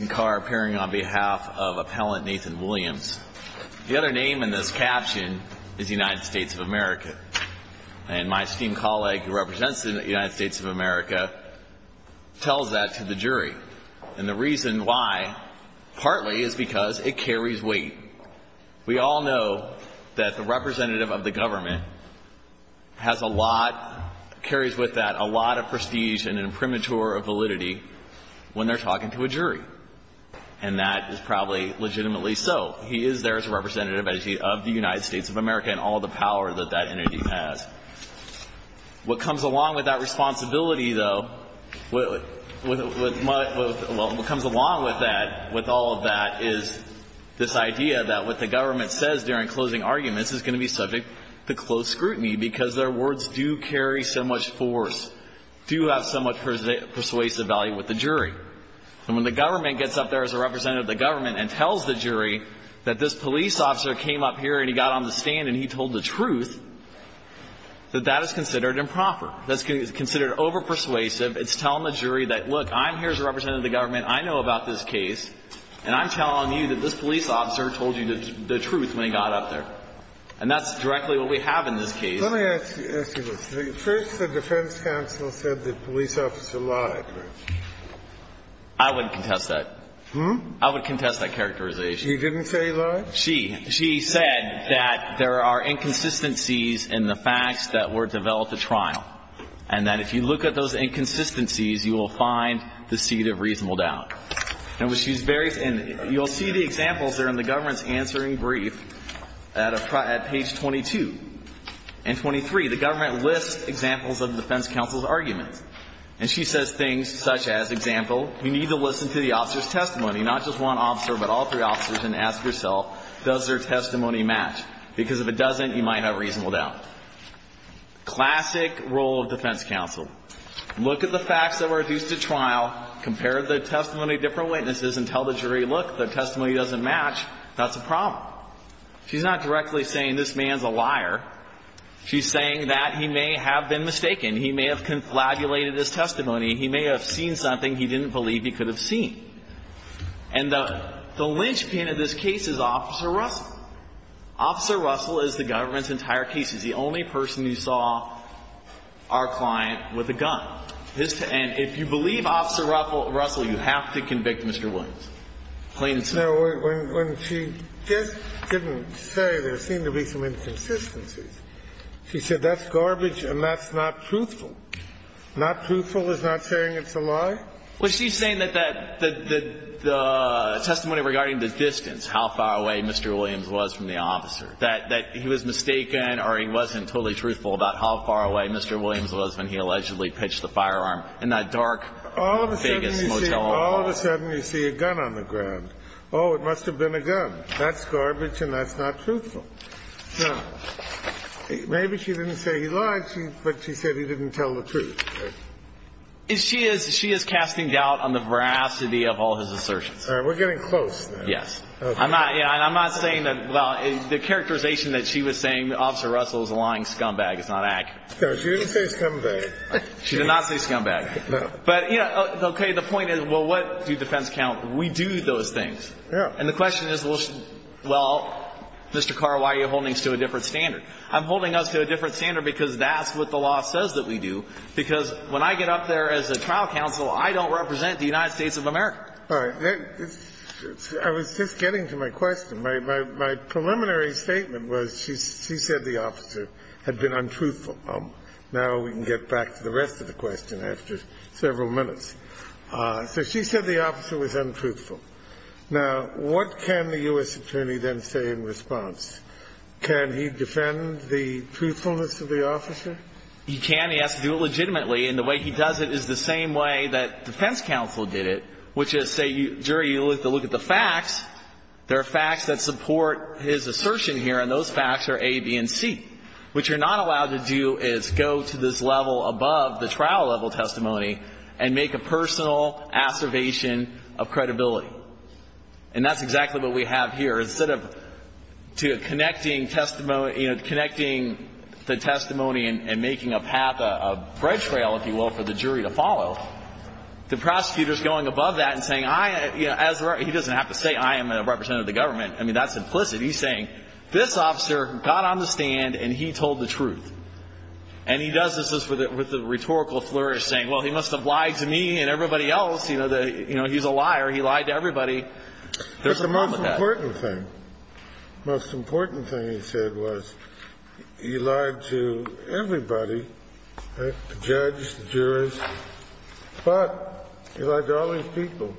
appearing on behalf of appellant Nathan Williams. The other name in this caption is United States of America. And my esteemed colleague who represents the United States of America tells that to the jury. And the reason why, partly, is because it carries weight. We all know that the representative of the government has a lot, carries with that a lot of prestige and a premature validity when they're talking to a jury. And that is probably legitimately so. He is there as a representative of the United States of America and all the power that that entity has. What comes along with that responsibility, though, what comes along with that, with all of that, is this idea that what the government says during closing arguments is going to be subject to close scrutiny, because their words do carry so much force, do have so much persuasive value with the jury. And when the government gets up there as a representative of the government and tells the jury that this police officer came up here and he got on the stand and he told the truth, that that is considered improper. That's considered overpersuasive. It's telling the jury that, look, I'm here as a representative of the government. I know about this case. And I'm telling you that this police officer told you the truth when he got up there. And that's directly what we have in this case. Let me ask you this. First, the defense counsel said that the police officer lied. I wouldn't contest that. I would contest that characterization. He didn't say he lied? She. She said that there are inconsistencies in the facts that were developed at trial, and that if you look at those inconsistencies, you will find the seed of reasonable doubt. And she's very, and you'll see the examples there in the government's answering brief at page 22. And 23, the government lists examples of the defense counsel's arguments. And she says things such as, example, you need to listen to the officer's testimony, not just one officer, but all three officers, and ask yourself, does their testimony match? Because if it doesn't, you might have reasonable doubt. Classic role of defense counsel. Look at the facts that were produced at trial, compare the testimony of different witnesses, and tell the jury, look, the testimony doesn't match. That's a problem. She's not directly saying this man's a liar. She's saying that he may have been mistaken. He may have conflagrated his testimony. He may have seen something he didn't believe he could have seen. And the linchpin of this case is Officer Russell. Officer Russell is the government's entire case. He's the only person who saw our client with a gun. And if you believe Officer Russell, you have to convict Mr. Williams, plain and simple. When she just didn't say, there seemed to be some inconsistencies, she said, that's garbage and that's not truthful. Not truthful is not saying it's a lie? Well, she's saying that the testimony regarding the distance, how far away Mr. Williams was from the officer, that he was mistaken or he wasn't totally truthful about how close the firearm in that dark Vegas motel room was. All of a sudden you see a gun on the ground. Oh, it must have been a gun. That's garbage and that's not truthful. Maybe she didn't say he lied, but she said he didn't tell the truth. She is casting doubt on the veracity of all his assertions. All right, we're getting close now. Yes. I'm not saying that the characterization that she was saying that Officer Russell was a lying scumbag is not accurate. She didn't say scumbag. She did not say scumbag. But, you know, okay, the point is, well, what do defense count? We do those things. And the question is, well, Mr. Carr, why are you holding us to a different standard? I'm holding us to a different standard because that's what the law says that we do, because when I get up there as a trial counsel, I don't represent the United States of America. All right. I was just getting to my question. My preliminary statement was she said the officer had been untruthful. Now we can get back to the rest of the question after several minutes. So she said the officer was untruthful. Now, what can the U.S. attorney then say in response? Can he defend the truthfulness of the officer? He can. He has to do it legitimately. And the way he does it is the same way that defense counsel did it, which is, say, jury, you look at the facts. There are facts that support his assertion here, and those facts are A, B, and C, which you're not allowed to do is go to this level above the trial-level testimony and make a personal assertion of credibility. And that's exactly what we have here. Instead of connecting testimony, you know, connecting the testimony and making a path, a bread trail, if you will, for the jury to follow, the prosecutor is going above that and saying, I, you know, he doesn't have to say I am a representative of the government. I mean, that's implicit. He's saying this officer got on the stand and he told the truth. And he does this with a rhetorical flourish, saying, well, he must have lied to me and everybody else. You know, he's a liar. He lied to everybody. There's a problem with that. But the most important thing, the most important thing he said was he lied to everybody, the judge, the jurors, but he lied to all these people.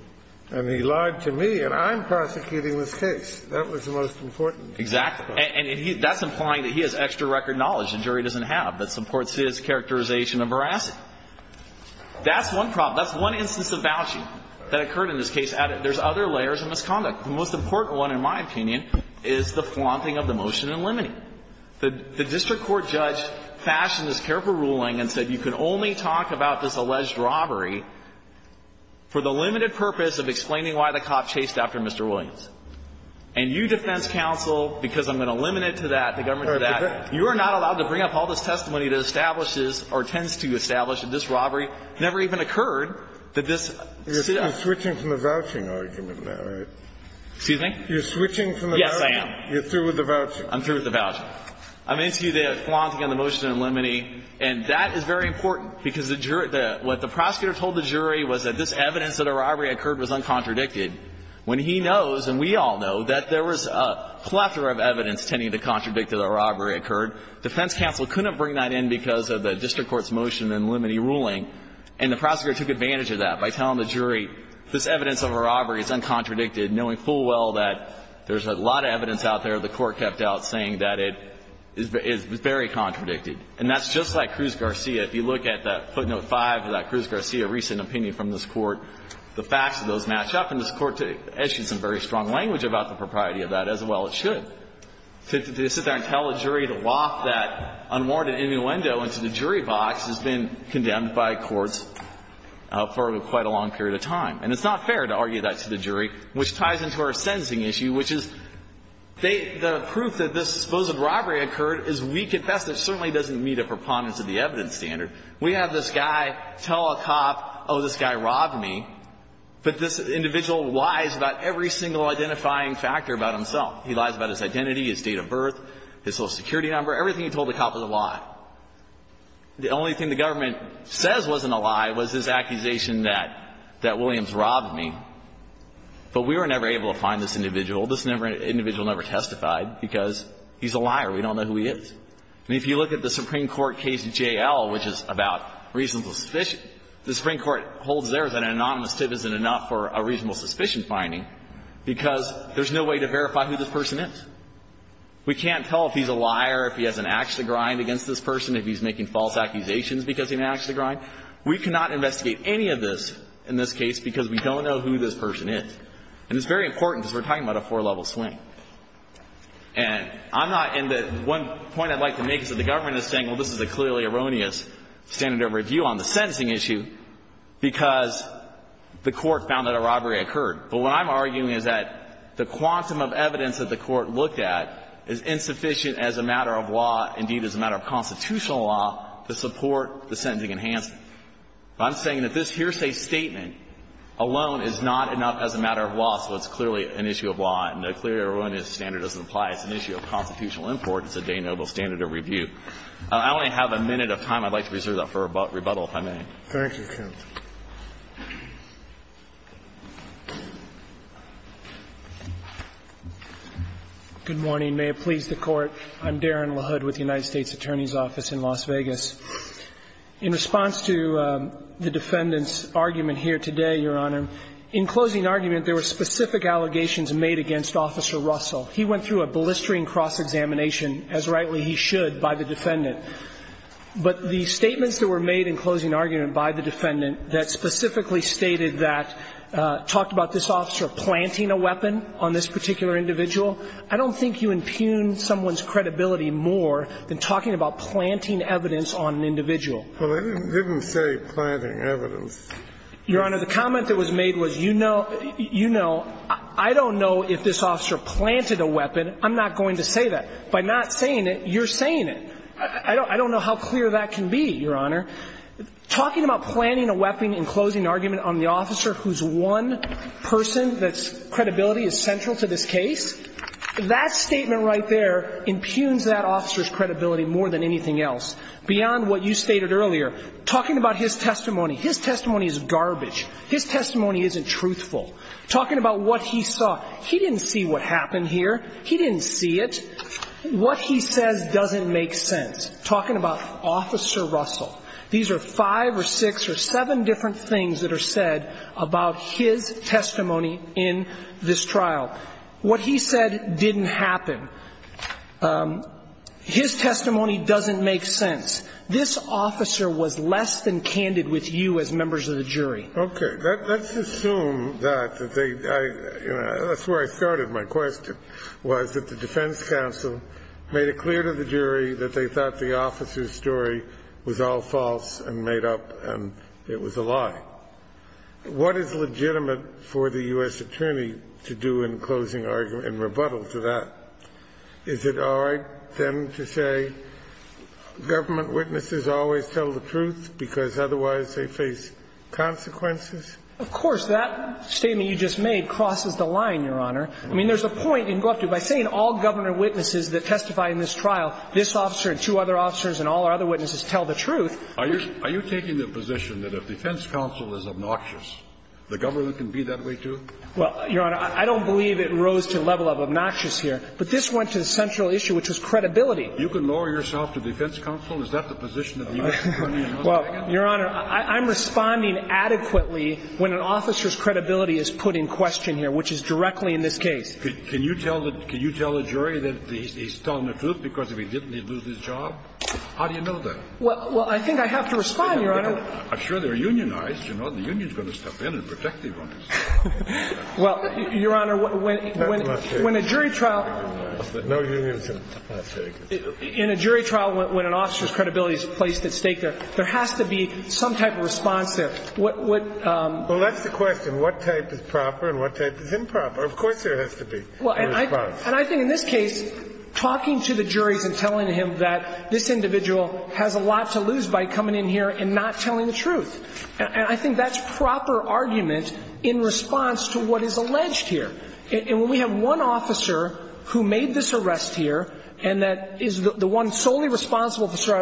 And he lied to me. And I'm prosecuting this case. That was the most important thing. Exactly. And that's implying that he has extra record knowledge the jury doesn't have that supports his characterization of veracity. That's one problem. That's one instance of vouching that occurred in this case. There's other layers of misconduct. The most important one, in my opinion, is the flaunting of the motion in limine. The district court judge fashioned this careful ruling and said you can only talk about this alleged robbery for the limited purpose of explaining why the cop chased after Mr. Williams. And you, defense counsel, because I'm going to limit it to that, the government to that, you are not allowed to bring up all this testimony that establishes or tends to establish that this robbery never even occurred, that this sit-up. You're switching from the vouching argument now, right? Excuse me? You're switching from the vouching. Yes, I am. You're through with the vouching. I'm through with the vouching. I'm into the flaunting of the motion in limine, and that is very important, because what the prosecutor told the jury was that this evidence that a robbery occurred was uncontradicted. When he knows, and we all know, that there was a plethora of evidence tending to contradict that a robbery occurred, defense counsel couldn't bring that in because of the district court's motion in limine ruling. And the prosecutor took advantage of that by telling the jury this evidence of a robbery is uncontradicted, knowing full well that there's a lot of evidence out there the Court kept out saying that it is very contradicted. And that's just like Cruz-Garcia. If you look at the footnote 5 of that Cruz-Garcia recent opinion from this Court, the facts of those match up, and this Court has issued some very strong language about the propriety of that as well as should. To sit there and tell a jury to loft that unwarranted innuendo into the jury box has been condemned by courts for quite a long period of time. And it's not fair to argue that to the jury, which ties into our sentencing issue, which is they – the proof that this supposed robbery occurred is we confess that it certainly doesn't meet a preponderance of the evidence standard. We have this guy tell a cop, oh, this guy robbed me. But this individual lies about every single identifying factor about himself. He lies about his identity, his date of birth, his social security number, everything he told the cop was a lie. The only thing the government says wasn't a lie was his accusation that Williams robbed me. But we were never able to find this individual. This individual never testified because he's a liar. We don't know who he is. And if you look at the Supreme Court case J.L., which is about reasonable suspicion, the Supreme Court holds there that an anonymous tip isn't enough for a reasonable suspicion finding because there's no way to verify who this person is. We can't tell if he's a liar, if he has an axe to grind against this person, if he's making false accusations because he has an axe to grind. We cannot investigate any of this in this case because we don't know who this person is. And it's very important because we're talking about a four-level swing. And I'm not in the one point I'd like to make is that the government is saying, well, this is a clearly erroneous standard of review on the sentencing issue because the Court found that a robbery occurred. But what I'm arguing is that the quantum of evidence that the Court looked at is insufficient as a matter of law, indeed as a matter of constitutional law, to support the sentencing enhancement. I'm saying that this hearsay statement alone is not enough as a matter of law, so it's erroneous standard doesn't apply. It's an issue of constitutional import. It's a de nobis standard of review. I only have a minute of time. I'd like to reserve that for rebuttal, if I may. Thank you, counsel. Good morning. May it please the Court. I'm Darren LaHood with the United States Attorney's Office in Las Vegas. In response to the defendant's argument here today, Your Honor, in closing argument, there were specific allegations made against Officer Russell. He went through a blistering cross-examination, as rightly he should, by the defendant. But the statements that were made in closing argument by the defendant that specifically stated that, talked about this officer planting a weapon on this particular individual, I don't think you impugn someone's credibility more than talking about planting evidence on an individual. Well, I didn't say planting evidence. Your Honor, the comment that was made was, you know, I don't know if this officer planted a weapon. I'm not going to say that. By not saying it, you're saying it. I don't know how clear that can be, Your Honor. Talking about planting a weapon in closing argument on the officer whose one person that's credibility is central to this case, that statement right there impugns that officer's credibility more than anything else, beyond what you stated earlier. Talking about his testimony. His testimony is garbage. His testimony isn't truthful. Talking about what he saw. He didn't see what happened here. He didn't see it. What he says doesn't make sense. Talking about Officer Russell. These are five or six or seven different things that are said about his testimony in this trial. What he said didn't happen. His testimony doesn't make sense. This officer was less than candid with you as members of the jury. Okay. Let's assume that they – that's where I started my question, was that the defense counsel made it clear to the jury that they thought the officer's story was all false and made up and it was a lie. What is legitimate for the U.S. attorney to do in closing argument and rebuttal to that? Is it all right, then, to say government witnesses always tell the truth because otherwise they face consequences? Of course. That statement you just made crosses the line, Your Honor. I mean, there's a point you can go up to. By saying all governor witnesses that testify in this trial, this officer and two other officers and all our other witnesses tell the truth. Are you taking the position that if defense counsel is obnoxious, the governor can be that way, too? Well, Your Honor, I don't believe it rose to the level of obnoxious here, but this went to the central issue, which was credibility. You can lower yourself to defense counsel? Is that the position of the U.S. attorney? Well, Your Honor, I'm responding adequately when an officer's credibility is put in question here, which is directly in this case. Can you tell the jury that he's telling the truth because if he didn't, he'd lose his job? How do you know that? Well, I think I have to respond, Your Honor. I'm sure they're unionized. You know, the union's going to step in and protect the owners. Well, Your Honor, when a jury trial In a jury trial when an officer's credibility is placed at stake, there has to be some type of response there. Well, that's the question. What type is proper and what type is improper? Of course there has to be a response. And I think in this case, talking to the juries and telling him that this individual has a lot to lose by coming in here and not telling the truth. And I think that's proper argument in response to what is alleged here. And when we have one officer who made this arrest here and that is the one solely responsible for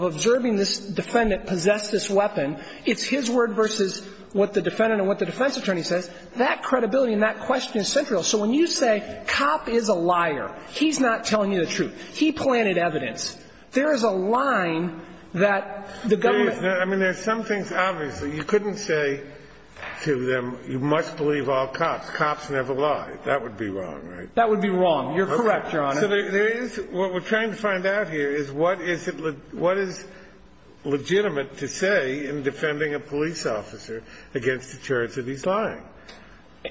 observing this defendant possess this weapon, it's his word versus what the defendant and what the defense attorney says. That credibility and that question is central. So when you say, cop is a liar, he's not telling you the truth, he planted evidence, there is a line that the government. I mean, there's some things obviously you couldn't say to them. You must believe all cops. Cops never lie. That would be wrong, right? That would be wrong. You're correct, Your Honor. So there is what we're trying to find out here is what is legitimate to say in defending a police officer against the charge that he's lying.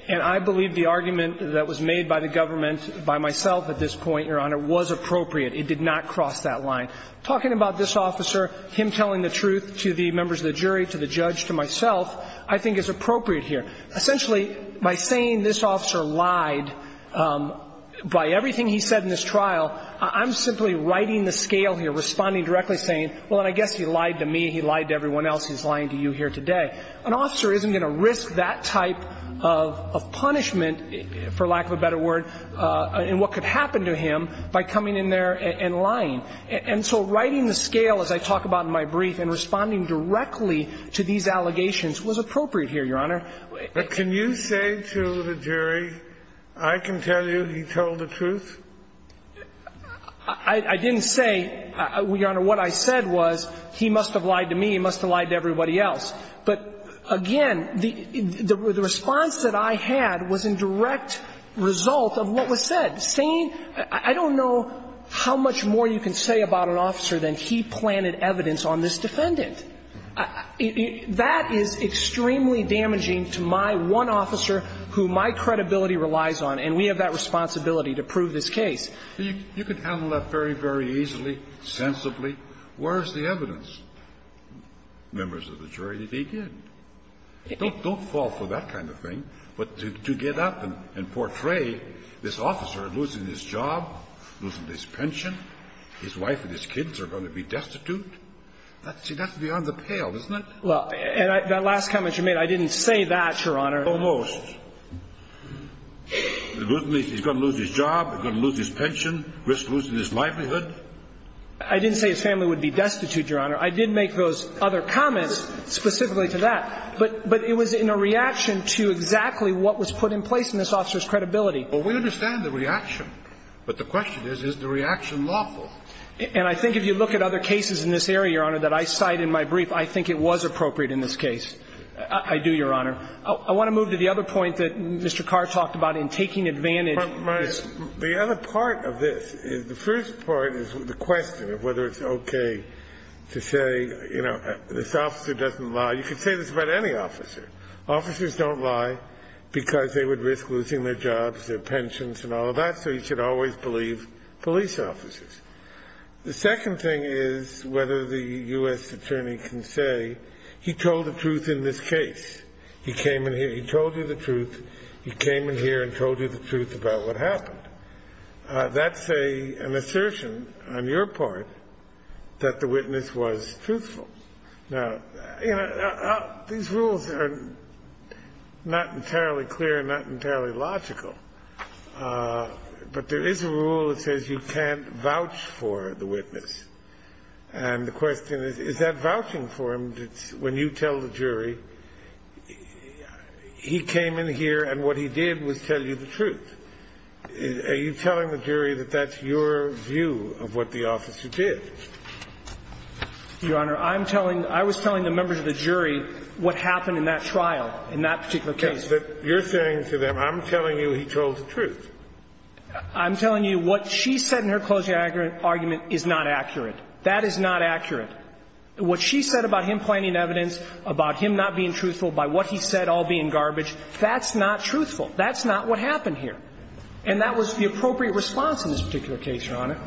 And I believe the argument that was made by the government by myself at this point, Your Honor, was appropriate. It did not cross that line. Talking about this officer, him telling the truth to the members of the jury, to the judge, to myself, I think is appropriate here. Essentially, by saying this officer lied by everything he said in this trial, I'm simply writing the scale here, responding directly, saying, well, I guess he lied to me, he lied to everyone else, he's lying to you here today. An officer isn't going to risk that type of punishment, for lack of a better word, in what could happen to him by coming in there and lying. And so writing the scale, as I talk about in my brief, and responding directly to these allegations was appropriate here, Your Honor. But can you say to the jury, I can tell you he told the truth? I didn't say, Your Honor, what I said was he must have lied to me, he must have lied to everybody else. But, again, the response that I had was in direct result of what was said, saying, I don't know how much more you can say about an officer than he planted evidence on this defendant. That is extremely damaging to my one officer who my credibility relies on, and we have that responsibility to prove this case. Kennedy. You can handle that very, very easily, sensibly. Where is the evidence? Members of the jury, they did. Don't fall for that kind of thing. But to get up and portray this officer losing his job, losing his pension, his wife and his kids are going to be destitute, that's beyond the pale, isn't it? Well, and that last comment you made, I didn't say that, Your Honor. Almost. He's going to lose his job, he's going to lose his pension, risk losing his livelihood. I didn't say his family would be destitute, Your Honor. I did make those other comments specifically to that. But it was in a reaction to exactly what was put in place in this officer's credibility. Well, we understand the reaction, but the question is, is the reaction lawful? And I think if you look at other cases in this area, Your Honor, that I cite in my brief, I think it was appropriate in this case. I do, Your Honor. I want to move to the other point that Mr. Carr talked about in taking advantage of this. The other part of this is, the first part is the question of whether it's okay to say, you know, this officer doesn't lie. You could say this about any officer. Officers don't lie because they would risk losing their jobs, their pensions, and all of that, so you should always believe police officers. The second thing is whether the U.S. attorney can say, he told the truth in this case. He came in here, he told you the truth. He came in here and told you the truth about what happened. That's an assertion on your part that the witness was truthful. Now, you know, these rules are not entirely clear and not entirely logical, but there is a rule that says you can't vouch for the witness. And the question is, is that vouching for him? When you tell the jury, he came in here and what he did was tell you the truth. Are you telling the jury that that's your view of what the officer did? Your Honor, I'm telling the members of the jury what happened in that trial, in that particular case. You're saying to them, I'm telling you he told the truth. I'm telling you what she said in her closing argument is not accurate. That is not accurate. What she said about him planning evidence, about him not being truthful, by what he said all being garbage, that's not truthful. That's not what happened here. And that was the appropriate response in this particular case, Your Honor.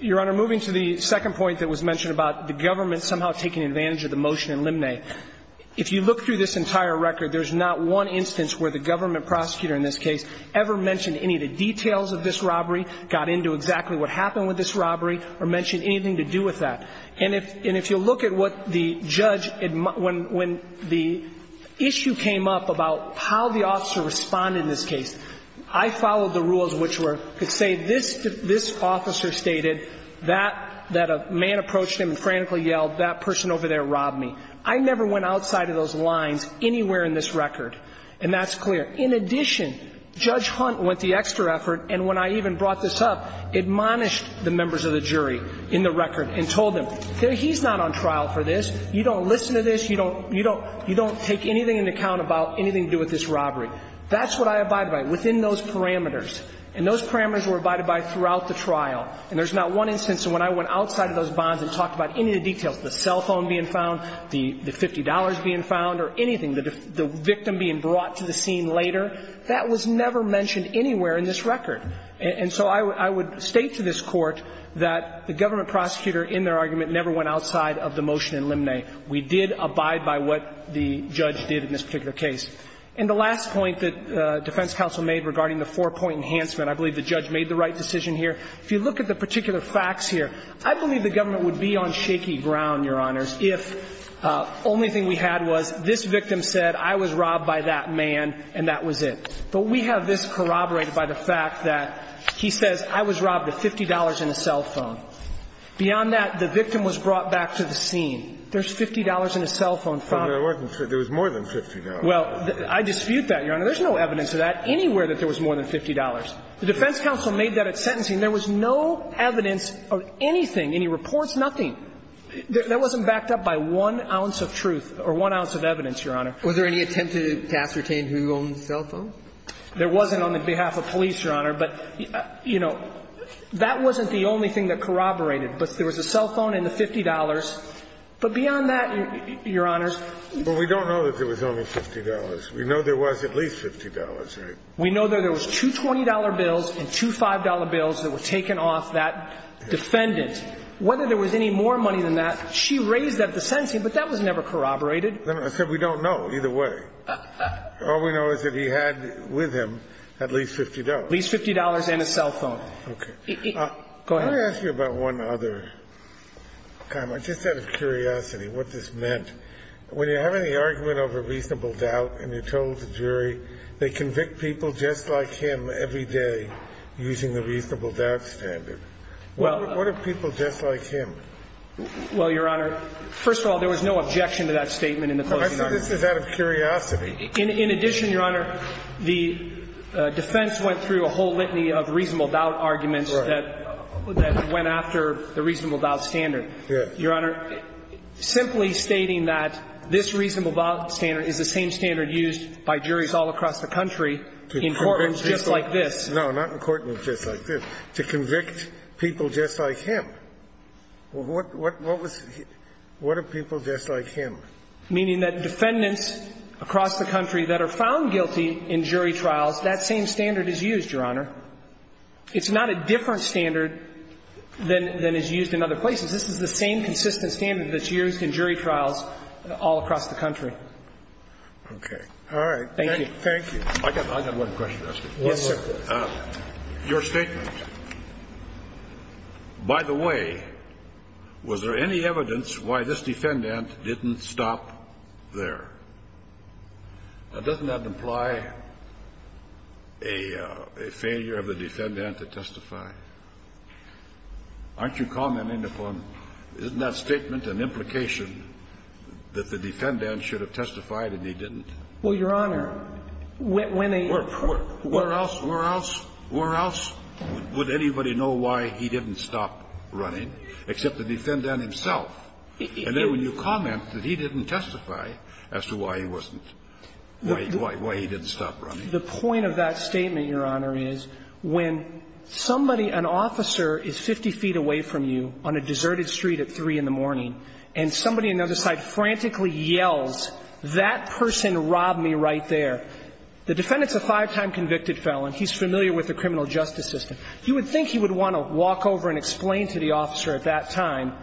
Your Honor, moving to the second point that was mentioned about the government somehow taking advantage of the motion in Limney, if you look through this entire record, there's not one instance where the government prosecutor in this case ever mentioned any of the details of this robbery, got into exactly what happened with this robbery, or mentioned anything to do with that. And if you look at what the judge, when the issue came up about how the officer responded in this case, I followed the rules which were to say this officer stated that a man approached him and frantically yelled, that person over there robbed me. I never went outside of those lines anywhere in this record. And that's clear. In addition, Judge Hunt went the extra effort, and when I even brought this up, admonished the members of the jury in the record and told them, he's not on trial for this. You don't listen to this. You don't take anything into account about anything to do with this robbery. That's what I abided by, within those parameters. And those parameters were abided by throughout the trial. And there's not one instance when I went outside of those bonds and talked about any of the details, the cell phone being found, the $50 being found, or anything, the victim being brought to the scene later. That was never mentioned anywhere in this record. And so I would state to this Court that the government prosecutor in their argument never went outside of the motion in Limney. We did abide by what the judge did in this particular case. And the last point that defense counsel made regarding the four-point enhancement, I believe the judge made the right decision here. If you look at the particular facts here, I believe the government would be on shaky ground, Your Honors, if only thing we had was this victim said, I was robbed by that man, and that was it. But we have this corroborated by the fact that he says, I was robbed of $50 and a cell phone. Beyond that, the victim was brought back to the scene. There's $50 and a cell phone found. There was more than $50. Well, I dispute that, Your Honor. There's no evidence of that anywhere that there was more than $50. The defense counsel made that at sentencing. There was no evidence of anything, any reports, nothing. That wasn't backed up by one ounce of truth or one ounce of evidence, Your Honor. Was there any attempt to ascertain who owned the cell phone? There wasn't on behalf of police, Your Honor. But, you know, that wasn't the only thing that corroborated. But there was a cell phone and the $50. But beyond that, Your Honor. Well, we don't know that there was only $50. We know there was at least $50, right? We know that there was two $20 bills and two $5 bills that were taken off that defendant. Whether there was any more money than that, she raised that at the sentencing, but that was never corroborated. I said we don't know either way. All we know is that he had with him at least $50. At least $50 and a cell phone. Okay. Go ahead. Can I ask you about one other comment, just out of curiosity, what this meant? When you have any argument over reasonable doubt and you're told the jury they convict people just like him every day using the reasonable doubt standard, what are people just like him? Well, Your Honor, first of all, there was no objection to that statement in the closing argument. I said this was out of curiosity. In addition, Your Honor, the defense went through a whole litany of reasonable doubt arguments that went after the reasonable doubt standard. Your Honor, simply stating that this reasonable doubt standard is the same standard used by juries all across the country in courtrooms just like this. No, not in courtrooms just like this. To convict people just like him. What are people just like him? Meaning that defendants across the country that are found guilty in jury trials, that same standard is used, Your Honor. It's not a different standard than is used in other places. This is the same consistent standard that's used in jury trials all across the country. Okay. All right. Thank you. Thank you. I got one question to ask you. Yes, sir. Your statement, by the way, was there any evidence why this defendant didn't stop there? Now, doesn't that imply a failure of the defendant to testify? Aren't you commenting upon that statement and implication that the defendant should have testified and he didn't? Well, Your Honor, when a person Where else, where else, where else would anybody know why he didn't stop running except the defendant himself? And then when you comment that he didn't testify as to why he wasn't, why he didn't stop running. The point of that statement, Your Honor, is when somebody, an officer is 50 feet away from you on a deserted street at 3 in the morning and somebody on the other side frantically yells, that person robbed me right there, the defendant's a five-time convicted felon. He's familiar with the criminal justice system. You would think he would want to walk over and explain to the officer at that time,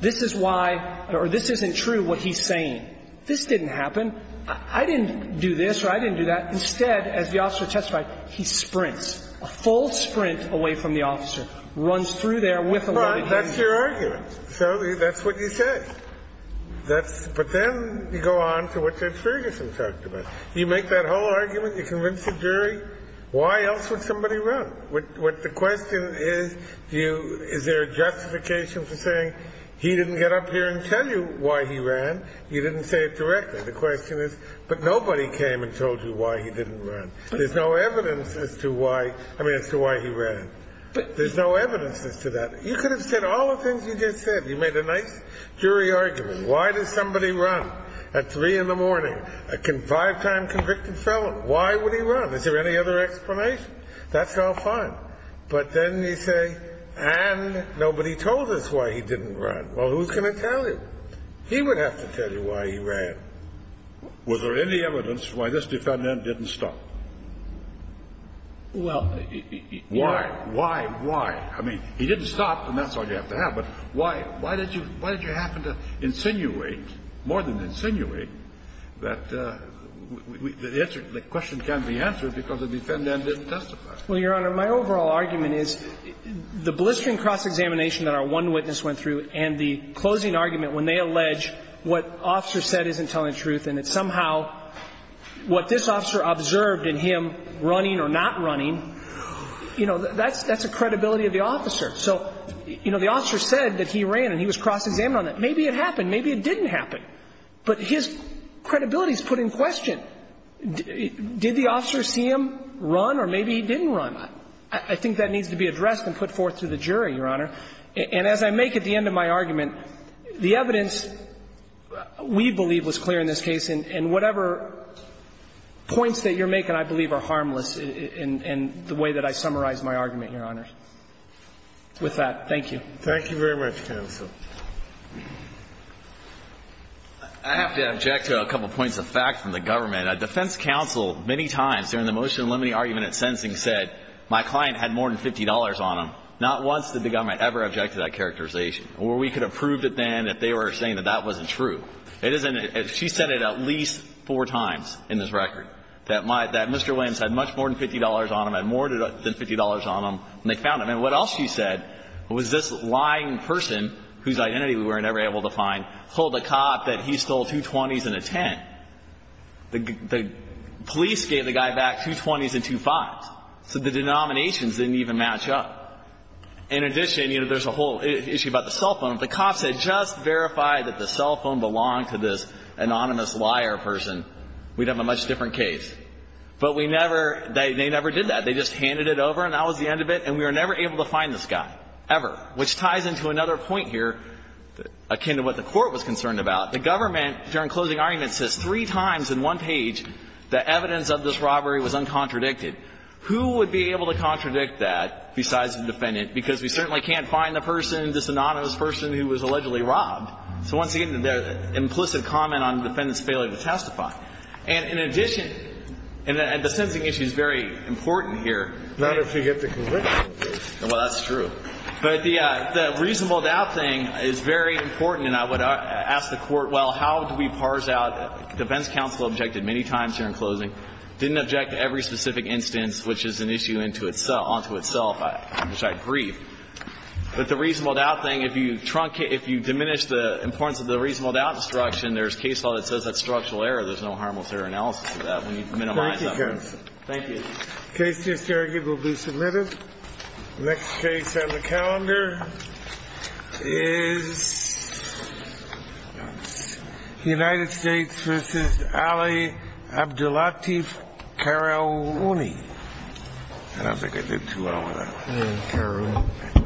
this is why or this isn't true, what he's saying. This didn't happen. I didn't do this or I didn't do that. Instead, as the officer testified, he sprints, a full sprint away from the officer, runs through there with a loaded gun. Well, that's your argument. So that's what you say. That's the question. But then you go on to what Judge Ferguson talked about. You make that whole argument. You convince the jury. Why else would somebody run? What the question is, is there a justification for saying, he didn't get up here and tell you why he ran, you didn't say it directly. The question is, but nobody came and told you why he didn't run. There's no evidence as to why, I mean, as to why he ran. There's no evidence as to that. You could have said all the things you just said. You made a nice jury argument. Why does somebody run at 3 in the morning, a five-time convicted felon? Why would he run? Is there any other explanation? That's all fine. But then you say, and nobody told us why he didn't run. Well, who's going to tell you? He would have to tell you why he ran. Was there any evidence why this defendant didn't stop? Well, you know. Why? Why? Why? I mean, he didn't stop, and that's all you have to have. But why? Why did you happen to insinuate, more than insinuate, that the question can be answered because the defendant didn't testify? Well, Your Honor, my overall argument is the blistering cross-examination that our one witness went through and the closing argument when they allege what officer said isn't telling the truth and that somehow what this officer observed in him running or not running, you know, that's a credibility of the officer. So, you know, the officer said that he ran and he was cross-examined on that. Maybe it happened. Maybe it didn't happen. But his credibility is put in question. Did the officer see him run or maybe he didn't run? I think that needs to be addressed and put forth to the jury, Your Honor. And as I make at the end of my argument, the evidence we believe was clear in this case, and whatever points that you're making I believe are harmless in the way that I summarized my argument, Your Honor. With that, thank you. Thank you very much, counsel. I have to object to a couple points of fact from the government. Defense counsel many times during the motion limiting argument at sentencing said my client had more than $50 on him. Not once did the government ever object to that characterization. Or we could have proved it then if they were saying that that wasn't true. It isn't. She said it at least four times in this record, that Mr. Williams had much more than $50 on him, had more than $50 on him, and they found him. And what else she said was this lying person whose identity we were never able to find told the cop that he stole two 20s and a 10. The police gave the guy back two 20s and two 5s. So the denominations didn't even match up. In addition, you know, there's a whole issue about the cell phone. If the cops had just verified that the cell phone belonged to this anonymous liar person, we'd have a much different case. But we never they never did that. They just handed it over and that was the end of it. And we were never able to find this guy, ever, which ties into another point here akin to what the Court was concerned about. The government, during closing arguments, says three times in one page that evidence of this robbery was uncontradicted. Who would be able to contradict that besides the defendant? Because we certainly can't find the person, this anonymous person who was allegedly robbed. So once again, the implicit comment on the defendant's failure to testify. And in addition, and the sensing issue is very important here. Not if you get the conviction. Well, that's true. But the reasonable doubt thing is very important. And I would ask the Court, well, how do we parse out defense counsel objected many times here in closing, didn't object to every specific instance, which is an issue onto itself, which I agree. But the reasonable doubt thing, if you truncate, if you diminish the importance of the reasonable doubt instruction, there's case law that says that's structural error, there's no harmless error analysis of that. We need to minimize that. Thank you. The case just argued will be submitted. The next case on the calendar is United States v. Ali Abdullatif Karouni. I don't think I did too well on that one. Karouni.